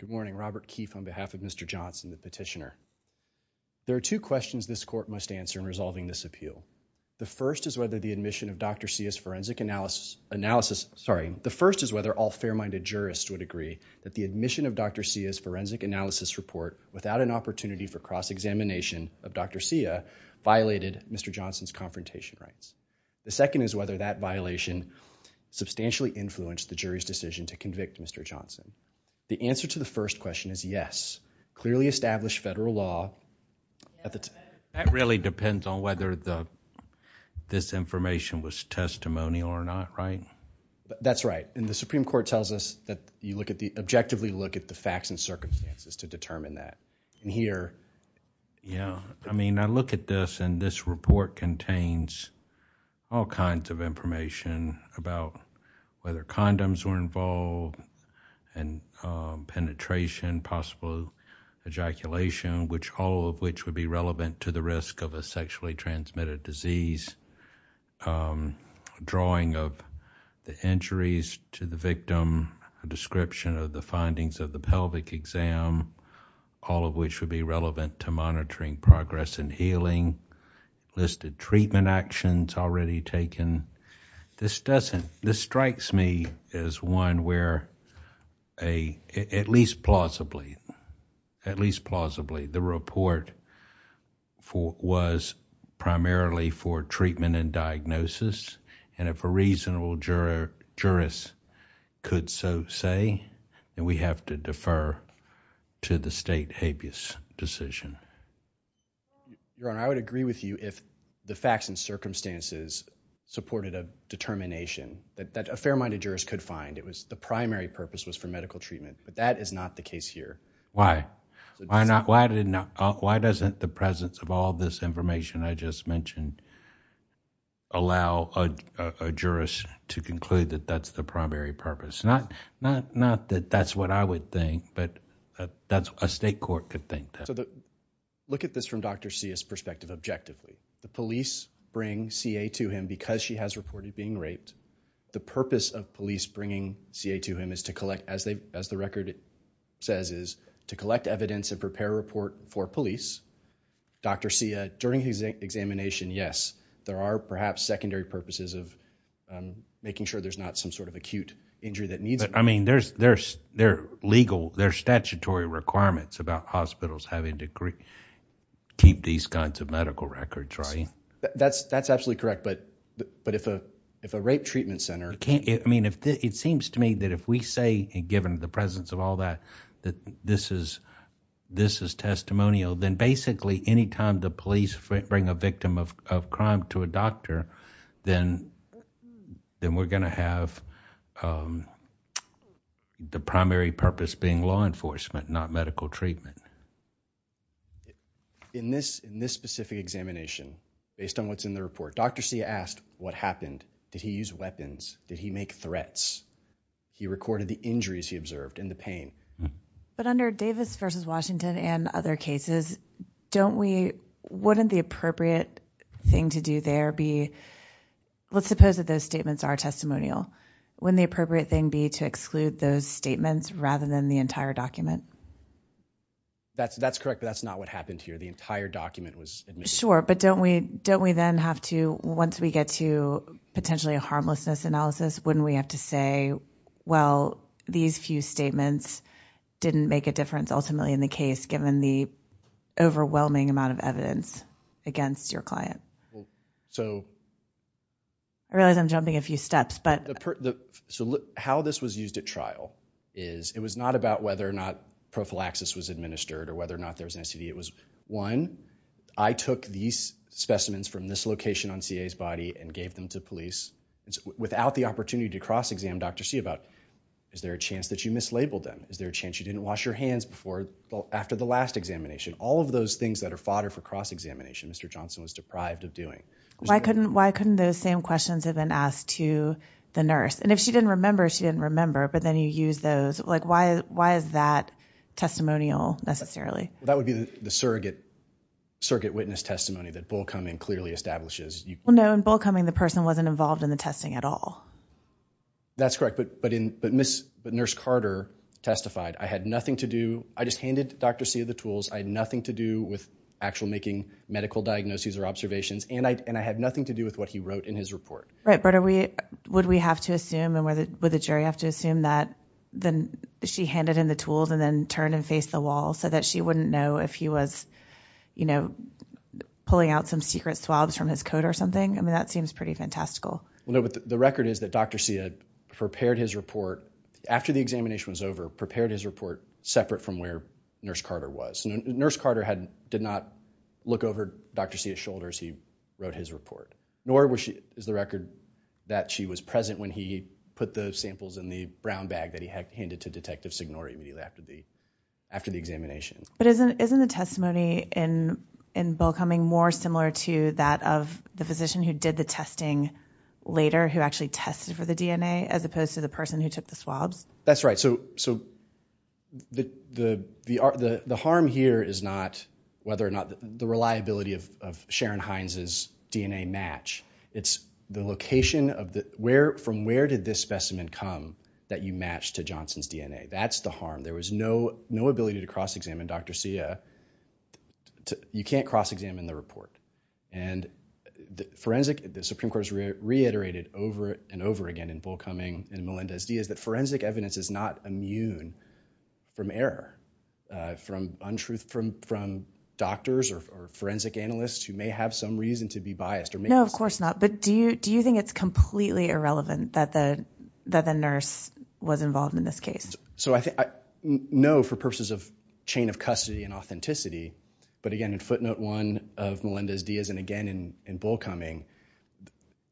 Good morning. Robert Keefe on behalf of Mr. Johnson, the petitioner. There are two questions this court must answer in resolving this appeal. The first is whether the admission of Dr. Sia's forensic analysis analysis. Sorry. The first is whether all fair minded jurists would agree that the admission of Dr. Sia's forensic analysis report without an opportunity for cross-examination of Dr. Sia violated Mr. Johnson's confrontation rights. The second is whether that violation substantially influenced the jury's decision to convict Mr. Johnson. The answer to the first question is yes. Clearly established federal law. That really depends on whether this information was testimonial or not, right? That's right. And the Supreme Court tells us that you objectively look at the facts and circumstances to determine that. Yeah. I mean, I look at this and this report contains all kinds of information about whether condoms were involved and penetration, possible ejaculation, which all of which would be relevant to the risk of a sexually transmitted disease. A drawing of the injuries to the victim, a description of the findings of the pelvic exam, all of which would be relevant to monitoring progress in healing, listed treatment actions already taken. This strikes me as one where, at least plausibly, the report was primarily for treatment and diagnosis. And if a reasonable jurist could so say, then we have to defer to the state habeas decision. Your Honor, I would agree with you if the facts and circumstances supported a determination that a fair-minded jurist could find. The primary purpose was for medical treatment, but that is not the case here. Why? Why doesn't the presence of all this information I just mentioned allow a jurist to conclude that that's the primary purpose? Not that that's what I would think, but a state court could think that. So look at this from Dr. Sia's perspective objectively. The police bring CA to him because she has reported being raped. The purpose of police bringing CA to him is to collect, as the record says, is to collect evidence and prepare a report for police. Dr. Sia, during his examination, yes, there are perhaps secondary purposes of making sure there's not some sort of acute injury that needs to be done. I mean, there's statutory requirements about hospitals having to keep these kinds of medical records, right? That's absolutely correct, but if a rape treatment center... I mean, it seems to me that if we say, given the presence of all that, that this is testimonial, then basically any time the police bring a victim of crime to a doctor, then we're going to have the primary purpose being law enforcement, not medical treatment. In this specific examination, based on what's in the report, Dr. Sia asked what happened. Did he use weapons? Did he make threats? He recorded the injuries he observed and the pain. But under Davis v. Washington and other cases, wouldn't the appropriate thing to do there be... Let's suppose that those statements are testimonial. Wouldn't the appropriate thing be to exclude those statements rather than the entire document? That's correct, but that's not what happened here. The entire document was admitted. Sure, but don't we then have to, once we get to potentially a harmlessness analysis, wouldn't we have to say, well, these few statements didn't make a difference ultimately in the case given the overwhelming amount of evidence against your client? I realize I'm jumping a few steps, but... How this was used at trial is, it was not about whether or not prophylaxis was administered or whether or not there was an STD. It was, one, I took these specimens from this location on CA's body and gave them to police. Without the opportunity to cross-exam Dr. Sia about, is there a chance that you mislabeled them? Is there a chance you didn't wash your hands after the last examination? All of those things that are fodder for cross-examination, Mr. Johnson was deprived of doing. Why couldn't those same questions have been asked to the nurse? And if she didn't remember, she didn't remember, but then you use those. Why is that testimonial necessarily? That would be the surrogate witness testimony that Bullcoming clearly establishes. No, in Bullcoming, the person wasn't involved in the testing at all. That's correct, but Nurse Carter testified, I had nothing to do, I just handed Dr. Sia the tools, I had nothing to do with actual making medical diagnoses or observations, and I had nothing to do with what he wrote in his report. Right, but would we have to assume, would the jury have to assume that she handed in the tools and then turned and faced the wall so that she wouldn't know if he was, you know, pulling out some secret swabs from his coat or something? I mean, that seems pretty fantastical. The record is that Dr. Sia prepared his report, after the examination was over, prepared his report separate from where Nurse Carter was. Nurse Carter did not look over Dr. Sia's shoulders as he wrote his report, nor is the record that she was present when he put the samples in the brown bag that he handed to Detective Signore immediately after the examination. But isn't the testimony in Bullcoming more similar to that of the physician who did the testing later, who actually tested for the DNA, as opposed to the person who took the swabs? That's right, so the harm here is not whether or not the reliability of Sharon Hines' DNA match, it's the location of the, where, from where did this specimen come that you matched to Johnson's DNA? That's the harm. There was no ability to cross-examine Dr. Sia. You can't cross-examine the report. And the forensic, the Supreme Court has reiterated over and over again in Bullcoming and Melendez-Diaz that forensic evidence is not immune from error, from untruth, from doctors or forensic analysts who may have some reason to be biased. No, of course not, but do you think it's completely irrelevant that the nurse was involved in this case? No, for purposes of chain of custody and authenticity, but again in footnote one of Melendez-Diaz and again in Bullcoming,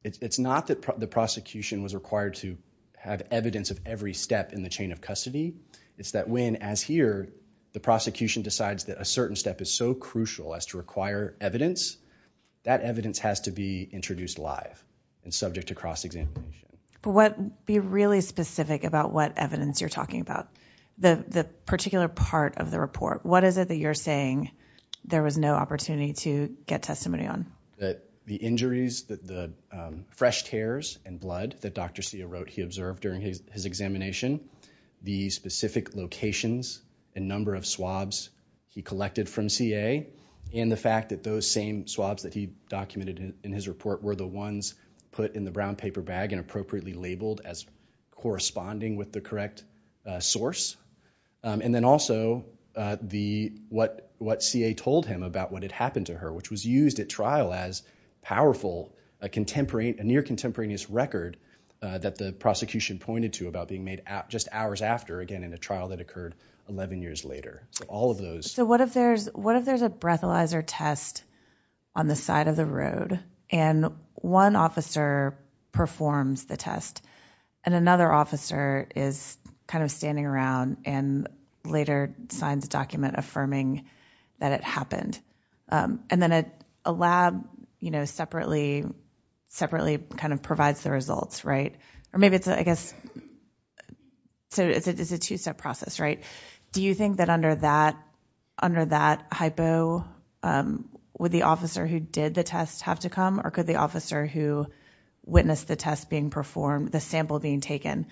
it's not that the prosecution was required to have evidence of every step in the chain of custody, it's that when, as here, the prosecution decides that a certain step is so crucial as to require evidence, that evidence has to be introduced live and subject to cross-examination. But be really specific about what evidence you're talking about. The particular part of the report, what is it that you're saying there was no opportunity to get testimony on? That the injuries, the fresh tears and blood that Dr. Sia wrote he observed during his examination, the specific locations and number of swabs he collected from Sia, and the fact that those same swabs that he documented in his report were the ones put in the brown paper bag and appropriately labeled as corresponding with the correct source, and then also what Sia told him about what had happened to her, which was used at trial as powerful, a near contemporaneous record that the prosecution pointed to about being made just hours after, again in a trial that occurred 11 years later. So what if there's a breathalyzer test on the side of the road, and one officer performs the test, and another officer is kind of standing around and later signs a document affirming that it happened, and then a lab separately kind of provides the results, right? Or maybe it's, I guess, it's a two-step process, right? Do you think that under that hypo, would the officer who did the test have to come, or could the officer who witnessed the test being performed, the sample being taken,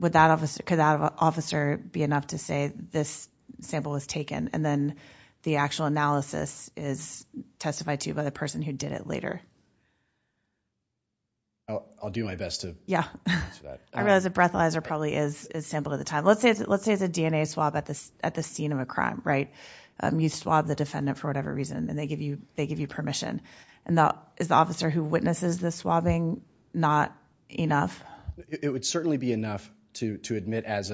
could that officer be enough to say this sample was taken, and then the actual analysis is testified to by the person who did it later? I'll do my best to answer that. I realize a breathalyzer probably is sampled at the time. Let's say it's a DNA swab at the scene of a crime, right? You swab the defendant for whatever reason, and they give you permission. Is the officer who witnesses the swabbing not enough? It would certainly be enough to admit as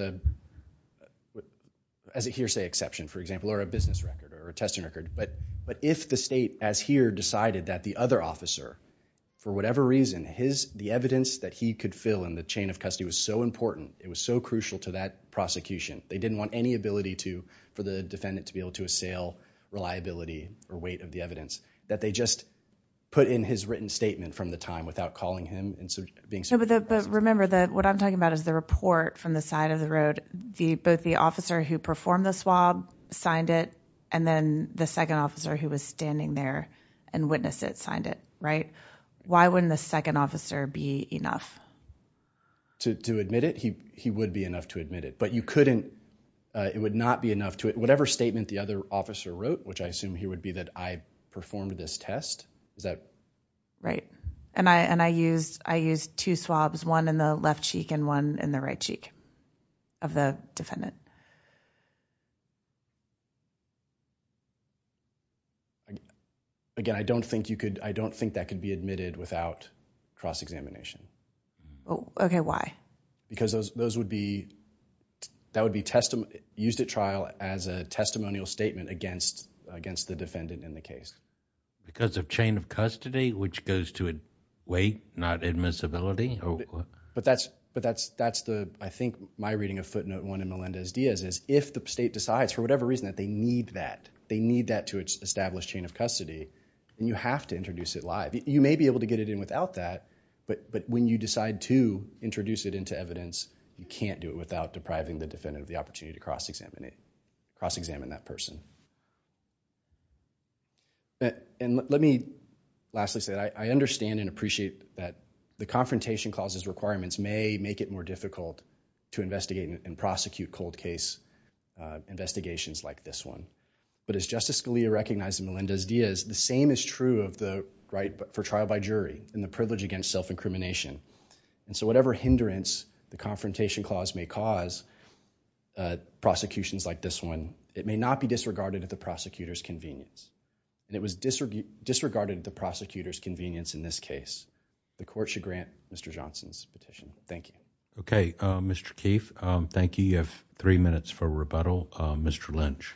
a hearsay exception, for example, or a business record or a testing record, but if the state as here decided that the other officer, for whatever reason, the evidence that he could fill in the chain of custody was so important, it was so crucial to that prosecution, they didn't want any ability for the defendant to be able to assail reliability or weight of the evidence, that they just put in his written statement from the time without calling him and being subject. But remember, what I'm talking about is the report from the side of the road. Both the officer who performed the swab signed it, and then the second officer who was standing there and witnessed it signed it, right? Why wouldn't the second officer be enough? To admit it, he would be enough to admit it, but you couldn't. It would not be enough to whatever statement the other officer wrote, which I assume here would be that I performed this test. Right, and I used two swabs, one in the left cheek and one in the right cheek of the defendant. Again, I don't think that could be admitted without cross-examination. Okay, why? Because that would be used at trial as a testimonial statement against the defendant in the case. Because of chain of custody, which goes to weight, not admissibility? But that's the, I think, my reading of footnote one in Melendez-Diaz is if the state decides for whatever reason that they need that, they need that to establish chain of custody, you have to introduce it live. You may be able to get it in without that, but when you decide to introduce it into evidence, you can't do it without depriving the defendant of the opportunity to cross-examine it, cross-examine that person. And let me lastly say that I understand and appreciate that the Confrontation Clause's requirements may make it more difficult to investigate and prosecute cold case investigations like this one. But as Justice Scalia recognized in Melendez-Diaz, the same is true of the right for trial by jury and the privilege against self-incrimination. And so whatever hindrance the Confrontation Clause may cause prosecutions like this one, it may not be disregarded at the prosecutor's convenience. And it was disregarded at the prosecutor's convenience in this case. The court should grant Mr. Johnson's petition. Thank you. Okay, Mr. Keefe, thank you. You have three minutes for rebuttal. Mr. Lynch.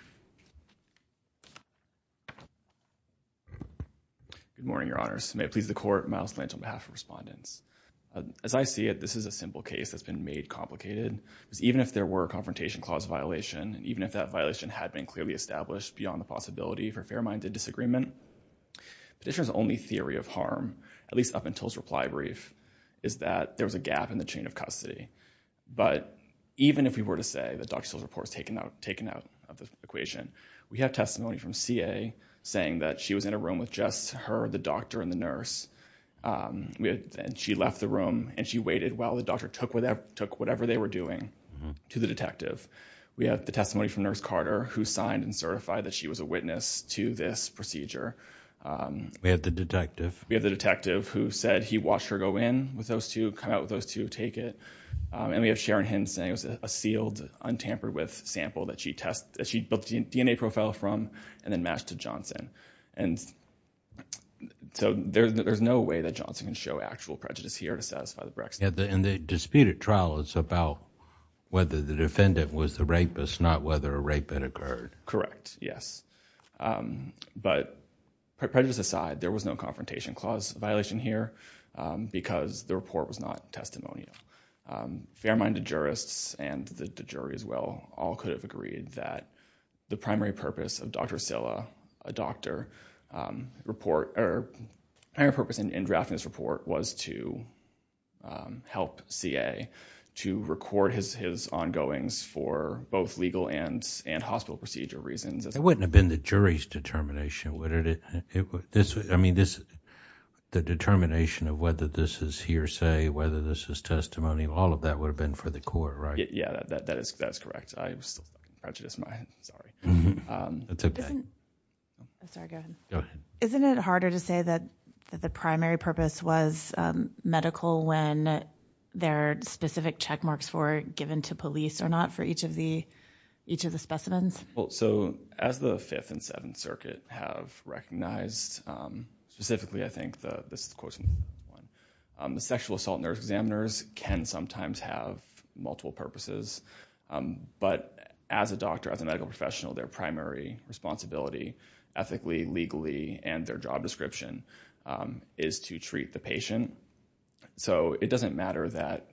Good morning, Your Honors. May it please the Court, Myles Lynch on behalf of respondents. As I see it, this is a simple case that's been made complicated. Even if there were a Confrontation Clause violation, even if that violation had been clearly established beyond the possibility for fair-minded disagreement, the petitioner's only theory of harm, at least up until his reply brief, is that there was a gap in the chain of custody. But even if we were to say that Dr. Steele's report was taken out of the equation, we have testimony from CA saying that she was in a room with just her, the doctor, and the nurse, and she left the room and she waited while the doctor took whatever they were doing to the detective. We have the testimony from Nurse Carter, who signed and certified that she was a witness to this procedure. We have the detective. We have the detective who said he watched her go in with those two, come out with those two, take it. And we have Sharon Hinn saying it was a sealed, untampered with sample that she built the DNA profile from and then matched to Johnson. And so there's no way that Johnson can show actual prejudice here to satisfy the Brexiteers. In the disputed trial, it's about whether the defendant was the rapist, not whether a rape had occurred. Correct, yes. But prejudice aside, there was no confrontation clause violation here because the report was not testimonial. Fair-minded jurists and the jury as well all could have agreed that the primary purpose of Dr. Steele, a doctor, or the primary purpose in drafting this report was to help CA to record his ongoings for both legal and hospital procedure reasons. It wouldn't have been the jury's determination, would it? I mean, the determination of whether this is hearsay, whether this is testimony, all of that would have been for the court, right? Yeah, that is correct. I still have prejudice in my head, sorry. That's okay. I'm sorry, go ahead. Go ahead. Isn't it harder to say that the primary purpose was medical when there are specific check marks were given to police or not for each of the specimens? So as the Fifth and Seventh Circuit have recognized, specifically, I think, this is a quote from one, the sexual assault nurse examiners can sometimes have multiple purposes, but as a doctor, as a medical professional, their primary responsibility ethically, legally, and their job description is to treat the patient. So it doesn't matter that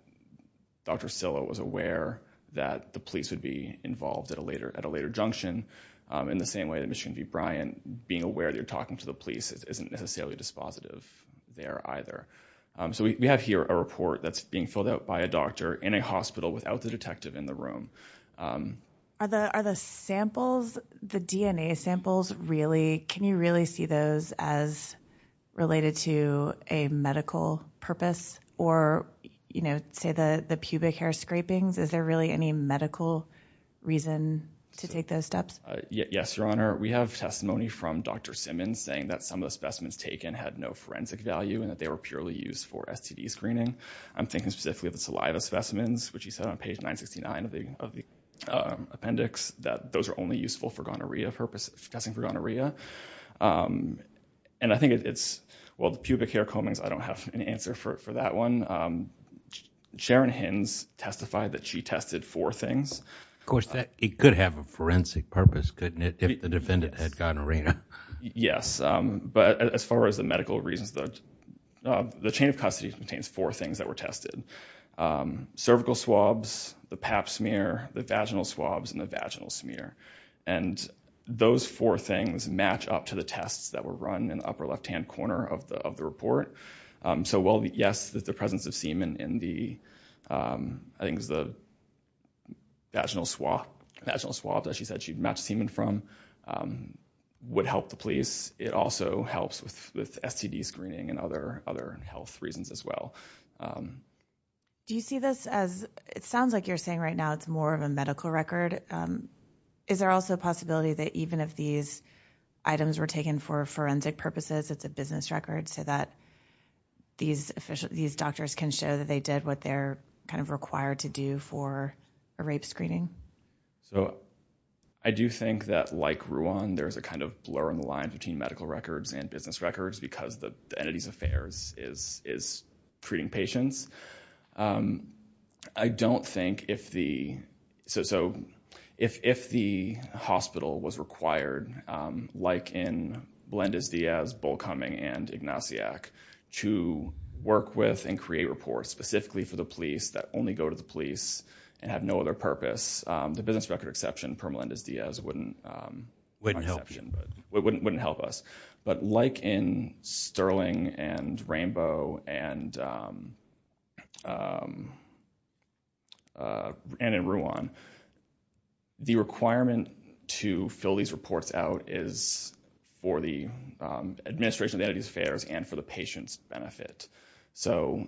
Dr. Steele was aware that the police would be involved at a later junction. In the same way that Michigan D. Bryant, being aware that you're talking to the police isn't necessarily dispositive there either. So we have here a report that's being filled out by a doctor in a hospital without the detective in the room. Are the samples, the DNA samples, really, can you really see those as related to a medical purpose or, you know, say the pubic hair scrapings? Is there really any medical reason to take those steps? Yes, Your Honor. We have testimony from Dr. Simmons saying that some of the specimens taken had no forensic value and that they were purely used for STD screening. I'm thinking specifically of the saliva specimens, which he said on page 969 of the appendix, that those are only useful for gonorrhea purposes, testing for gonorrhea. And I think it's, well, the pubic hair comings, I don't have an answer for that one. Sharon Hins testified that she tested four things. Of course, it could have a forensic purpose, couldn't it, if the defendant had gonorrhea? Yes, but as far as the medical reasons, the chain of custody contains four things that were tested. Cervical swabs, the pap smear, the vaginal swabs, and the vaginal smear. And those four things match up to the tests that were run in the upper left-hand corner of the report. So while, yes, the presence of semen in the, I think it's the vaginal swab that she said she'd match semen from would help the police, it also helps with STD screening and other health reasons as well. Do you see this as, it sounds like you're saying right now it's more of a medical record. Is there also a possibility that even if these items were taken for forensic purposes, it's a business record so that these doctors can show that they did what they're kind of required to do for a rape screening? So I do think that, like Ruan, there's a kind of blur in the line between medical records and business records because the entity's affairs is treating patients. I don't think if the, so if the hospital was required, like in Melendez-Diaz, Bullcoming, and Ignaciak, to work with and create reports specifically for the police that only go to the police and have no other purpose, the business record exception, per Melendez-Diaz, wouldn't help us. But like in Sterling and Rainbow and in Ruan, the requirement to fill these reports out is for the administration of the entity's affairs and for the patient's benefit. So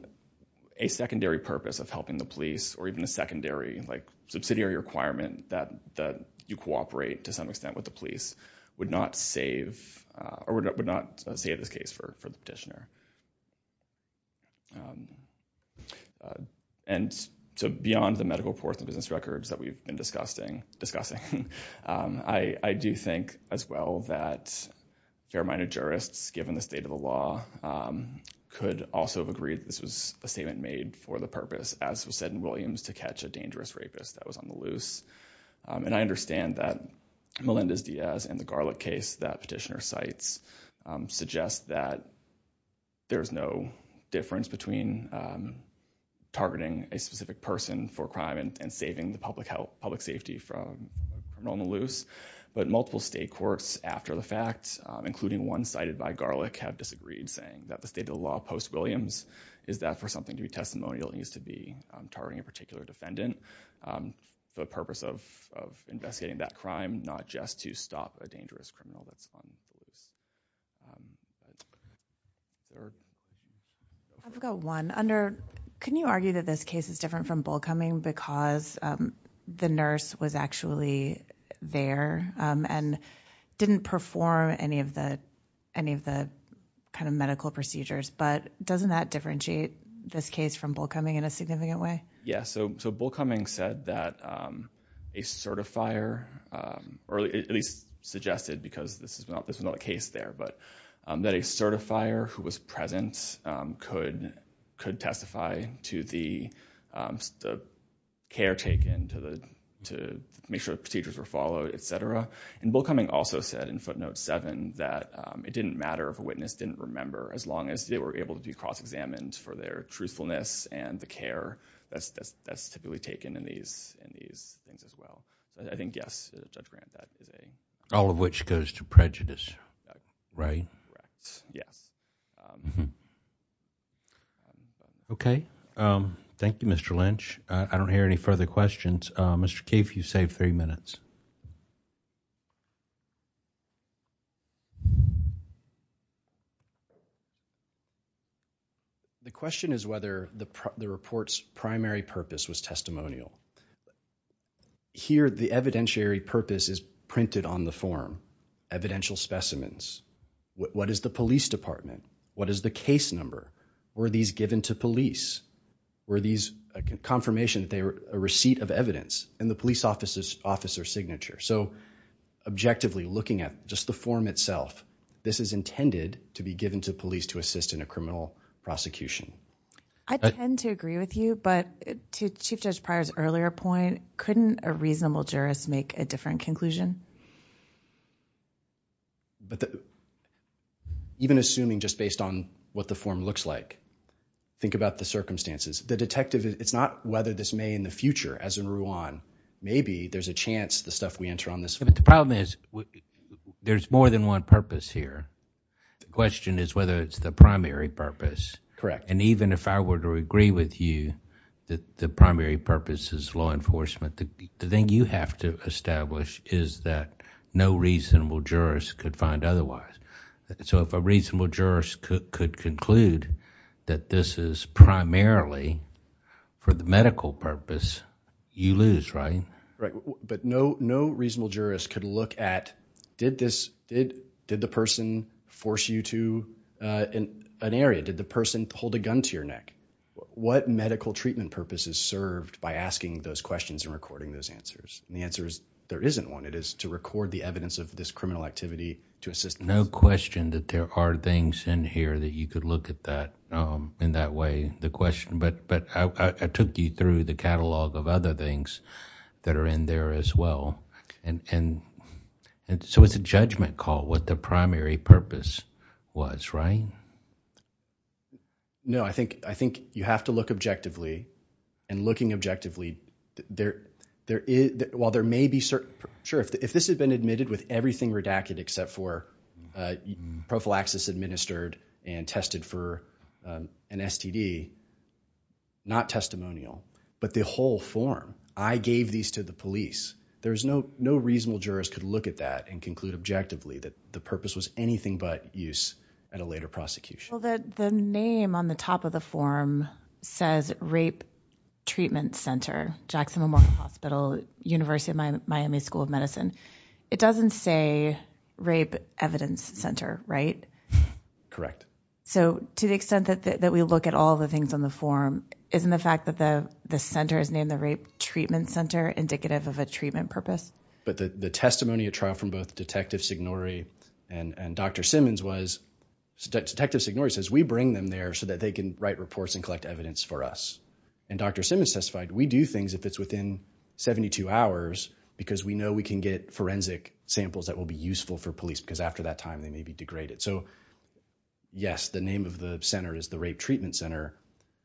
a secondary purpose of helping the police or even a secondary, like subsidiary requirement that you cooperate to some extent with the police would not save, or would not save this case for the petitioner. And so beyond the medical reports and business records that we've been discussing, I do think as well that fair-minded jurists, given the state of the law, could also have agreed that this was a statement made for the purpose, as was said in Williams, to catch a dangerous rapist that was on the loose. And I understand that Melendez-Diaz and the Garlick case that petitioner cites suggest that there is no difference between targeting a specific person for crime and saving the public health, public safety from being on the loose. But multiple state courts, after the fact, including one cited by Garlick, have disagreed, saying that the state of the law post-Williams is that for something to be testimonial needs to be targeting a particular defendant. The purpose of investigating that crime, not just to stop a dangerous criminal that's on the loose. I've got one. Under, can you argue that this case is different from Bullcoming because the nurse was actually there and didn't perform any of the kind of medical procedures? But doesn't that differentiate this case from Bullcoming in a significant way? Yeah. So Bullcoming said that a certifier, or at least suggested because this was not the case there, but that a certifier who was present could testify to the care taken to make sure the procedures were followed, et cetera. And Bullcoming also said in footnote seven that it didn't matter if a witness didn't remember as long as they were able to be cross-examined for their truthfulness and the care that's typically taken in these things as well. But I think, yes, Judge Grant, that is a- All of which goes to prejudice, right? Correct, yes. Okay. Thank you, Mr. Lynch. I don't hear any further questions. Mr. Cave, you saved three minutes. The question is whether the report's primary purpose was testimonial. Here the evidentiary purpose is printed on the form, evidential specimens. What is the police department? What is the case number? Were these given to police? Were these a confirmation that they were a receipt of evidence and the police officer's signature? So objectively looking at just the form itself, this is intended to be given to police to assist in a criminal prosecution. I tend to agree with you, but to Chief Judge Pryor's earlier point, couldn't a reasonable jurist make a different conclusion? Even assuming just based on what the form looks like, think about the circumstances. The detective, it's not whether this may in the future, as in Ruan, maybe there's a chance the stuff we enter on this- But the problem is there's more than one purpose here. The question is whether it's the primary purpose. Correct. And even if I were to agree with you that the primary purpose is law enforcement, the thing you have to establish is that no reasonable jurist could find otherwise. So if a reasonable jurist could conclude that this is primarily for the medical purpose, you lose, right? Right. But no reasonable jurist could look at, did the person force you to an area? Did the person hold a gun to your neck? What medical treatment purpose is served by asking those questions and recording those answers? And the answer is there isn't one. It is to record the evidence of this criminal activity to assist- No question that there are things in here that you could look at that in that way, the question. But I took you through the catalog of other things that are in there as well. And so it's a judgment call what the primary purpose was, right? No, I think you have to look objectively. And looking objectively, while there may be certain- prophylaxis administered and tested for an STD, not testimonial, but the whole form, I gave these to the police. There's no reasonable jurist could look at that and conclude objectively that the purpose was anything but use at a later prosecution. Well, the name on the top of the form says Rape Treatment Center, Jackson Memorial Hospital, University of Miami School of Medicine. It doesn't say Rape Evidence Center, right? Correct. So to the extent that we look at all the things on the form, isn't the fact that the center is named the Rape Treatment Center indicative of a treatment purpose? But the testimony at trial from both Detective Signore and Dr. Simmons was- Detective Signore says, we bring them there so that they can write reports and collect evidence for us. And Dr. Simmons testified, we do things if it's within 72 hours because we know we can get forensic samples that will be useful for police because after that time, they may be degraded. So yes, the name of the center is the Rape Treatment Center,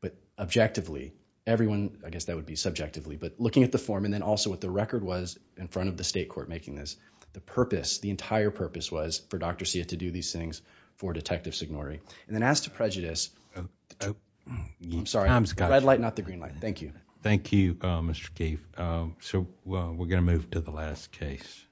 but objectively, everyone, I guess that would be subjectively, but looking at the form and then also what the record was in front of the state court making this, the purpose, the entire purpose was for Dr. Sia to do these things for Detective Signore. And then as to prejudice- I'm sorry, red light, not the green light. Thank you. Thank you, Mr. Cave. So we're going to move to the last case.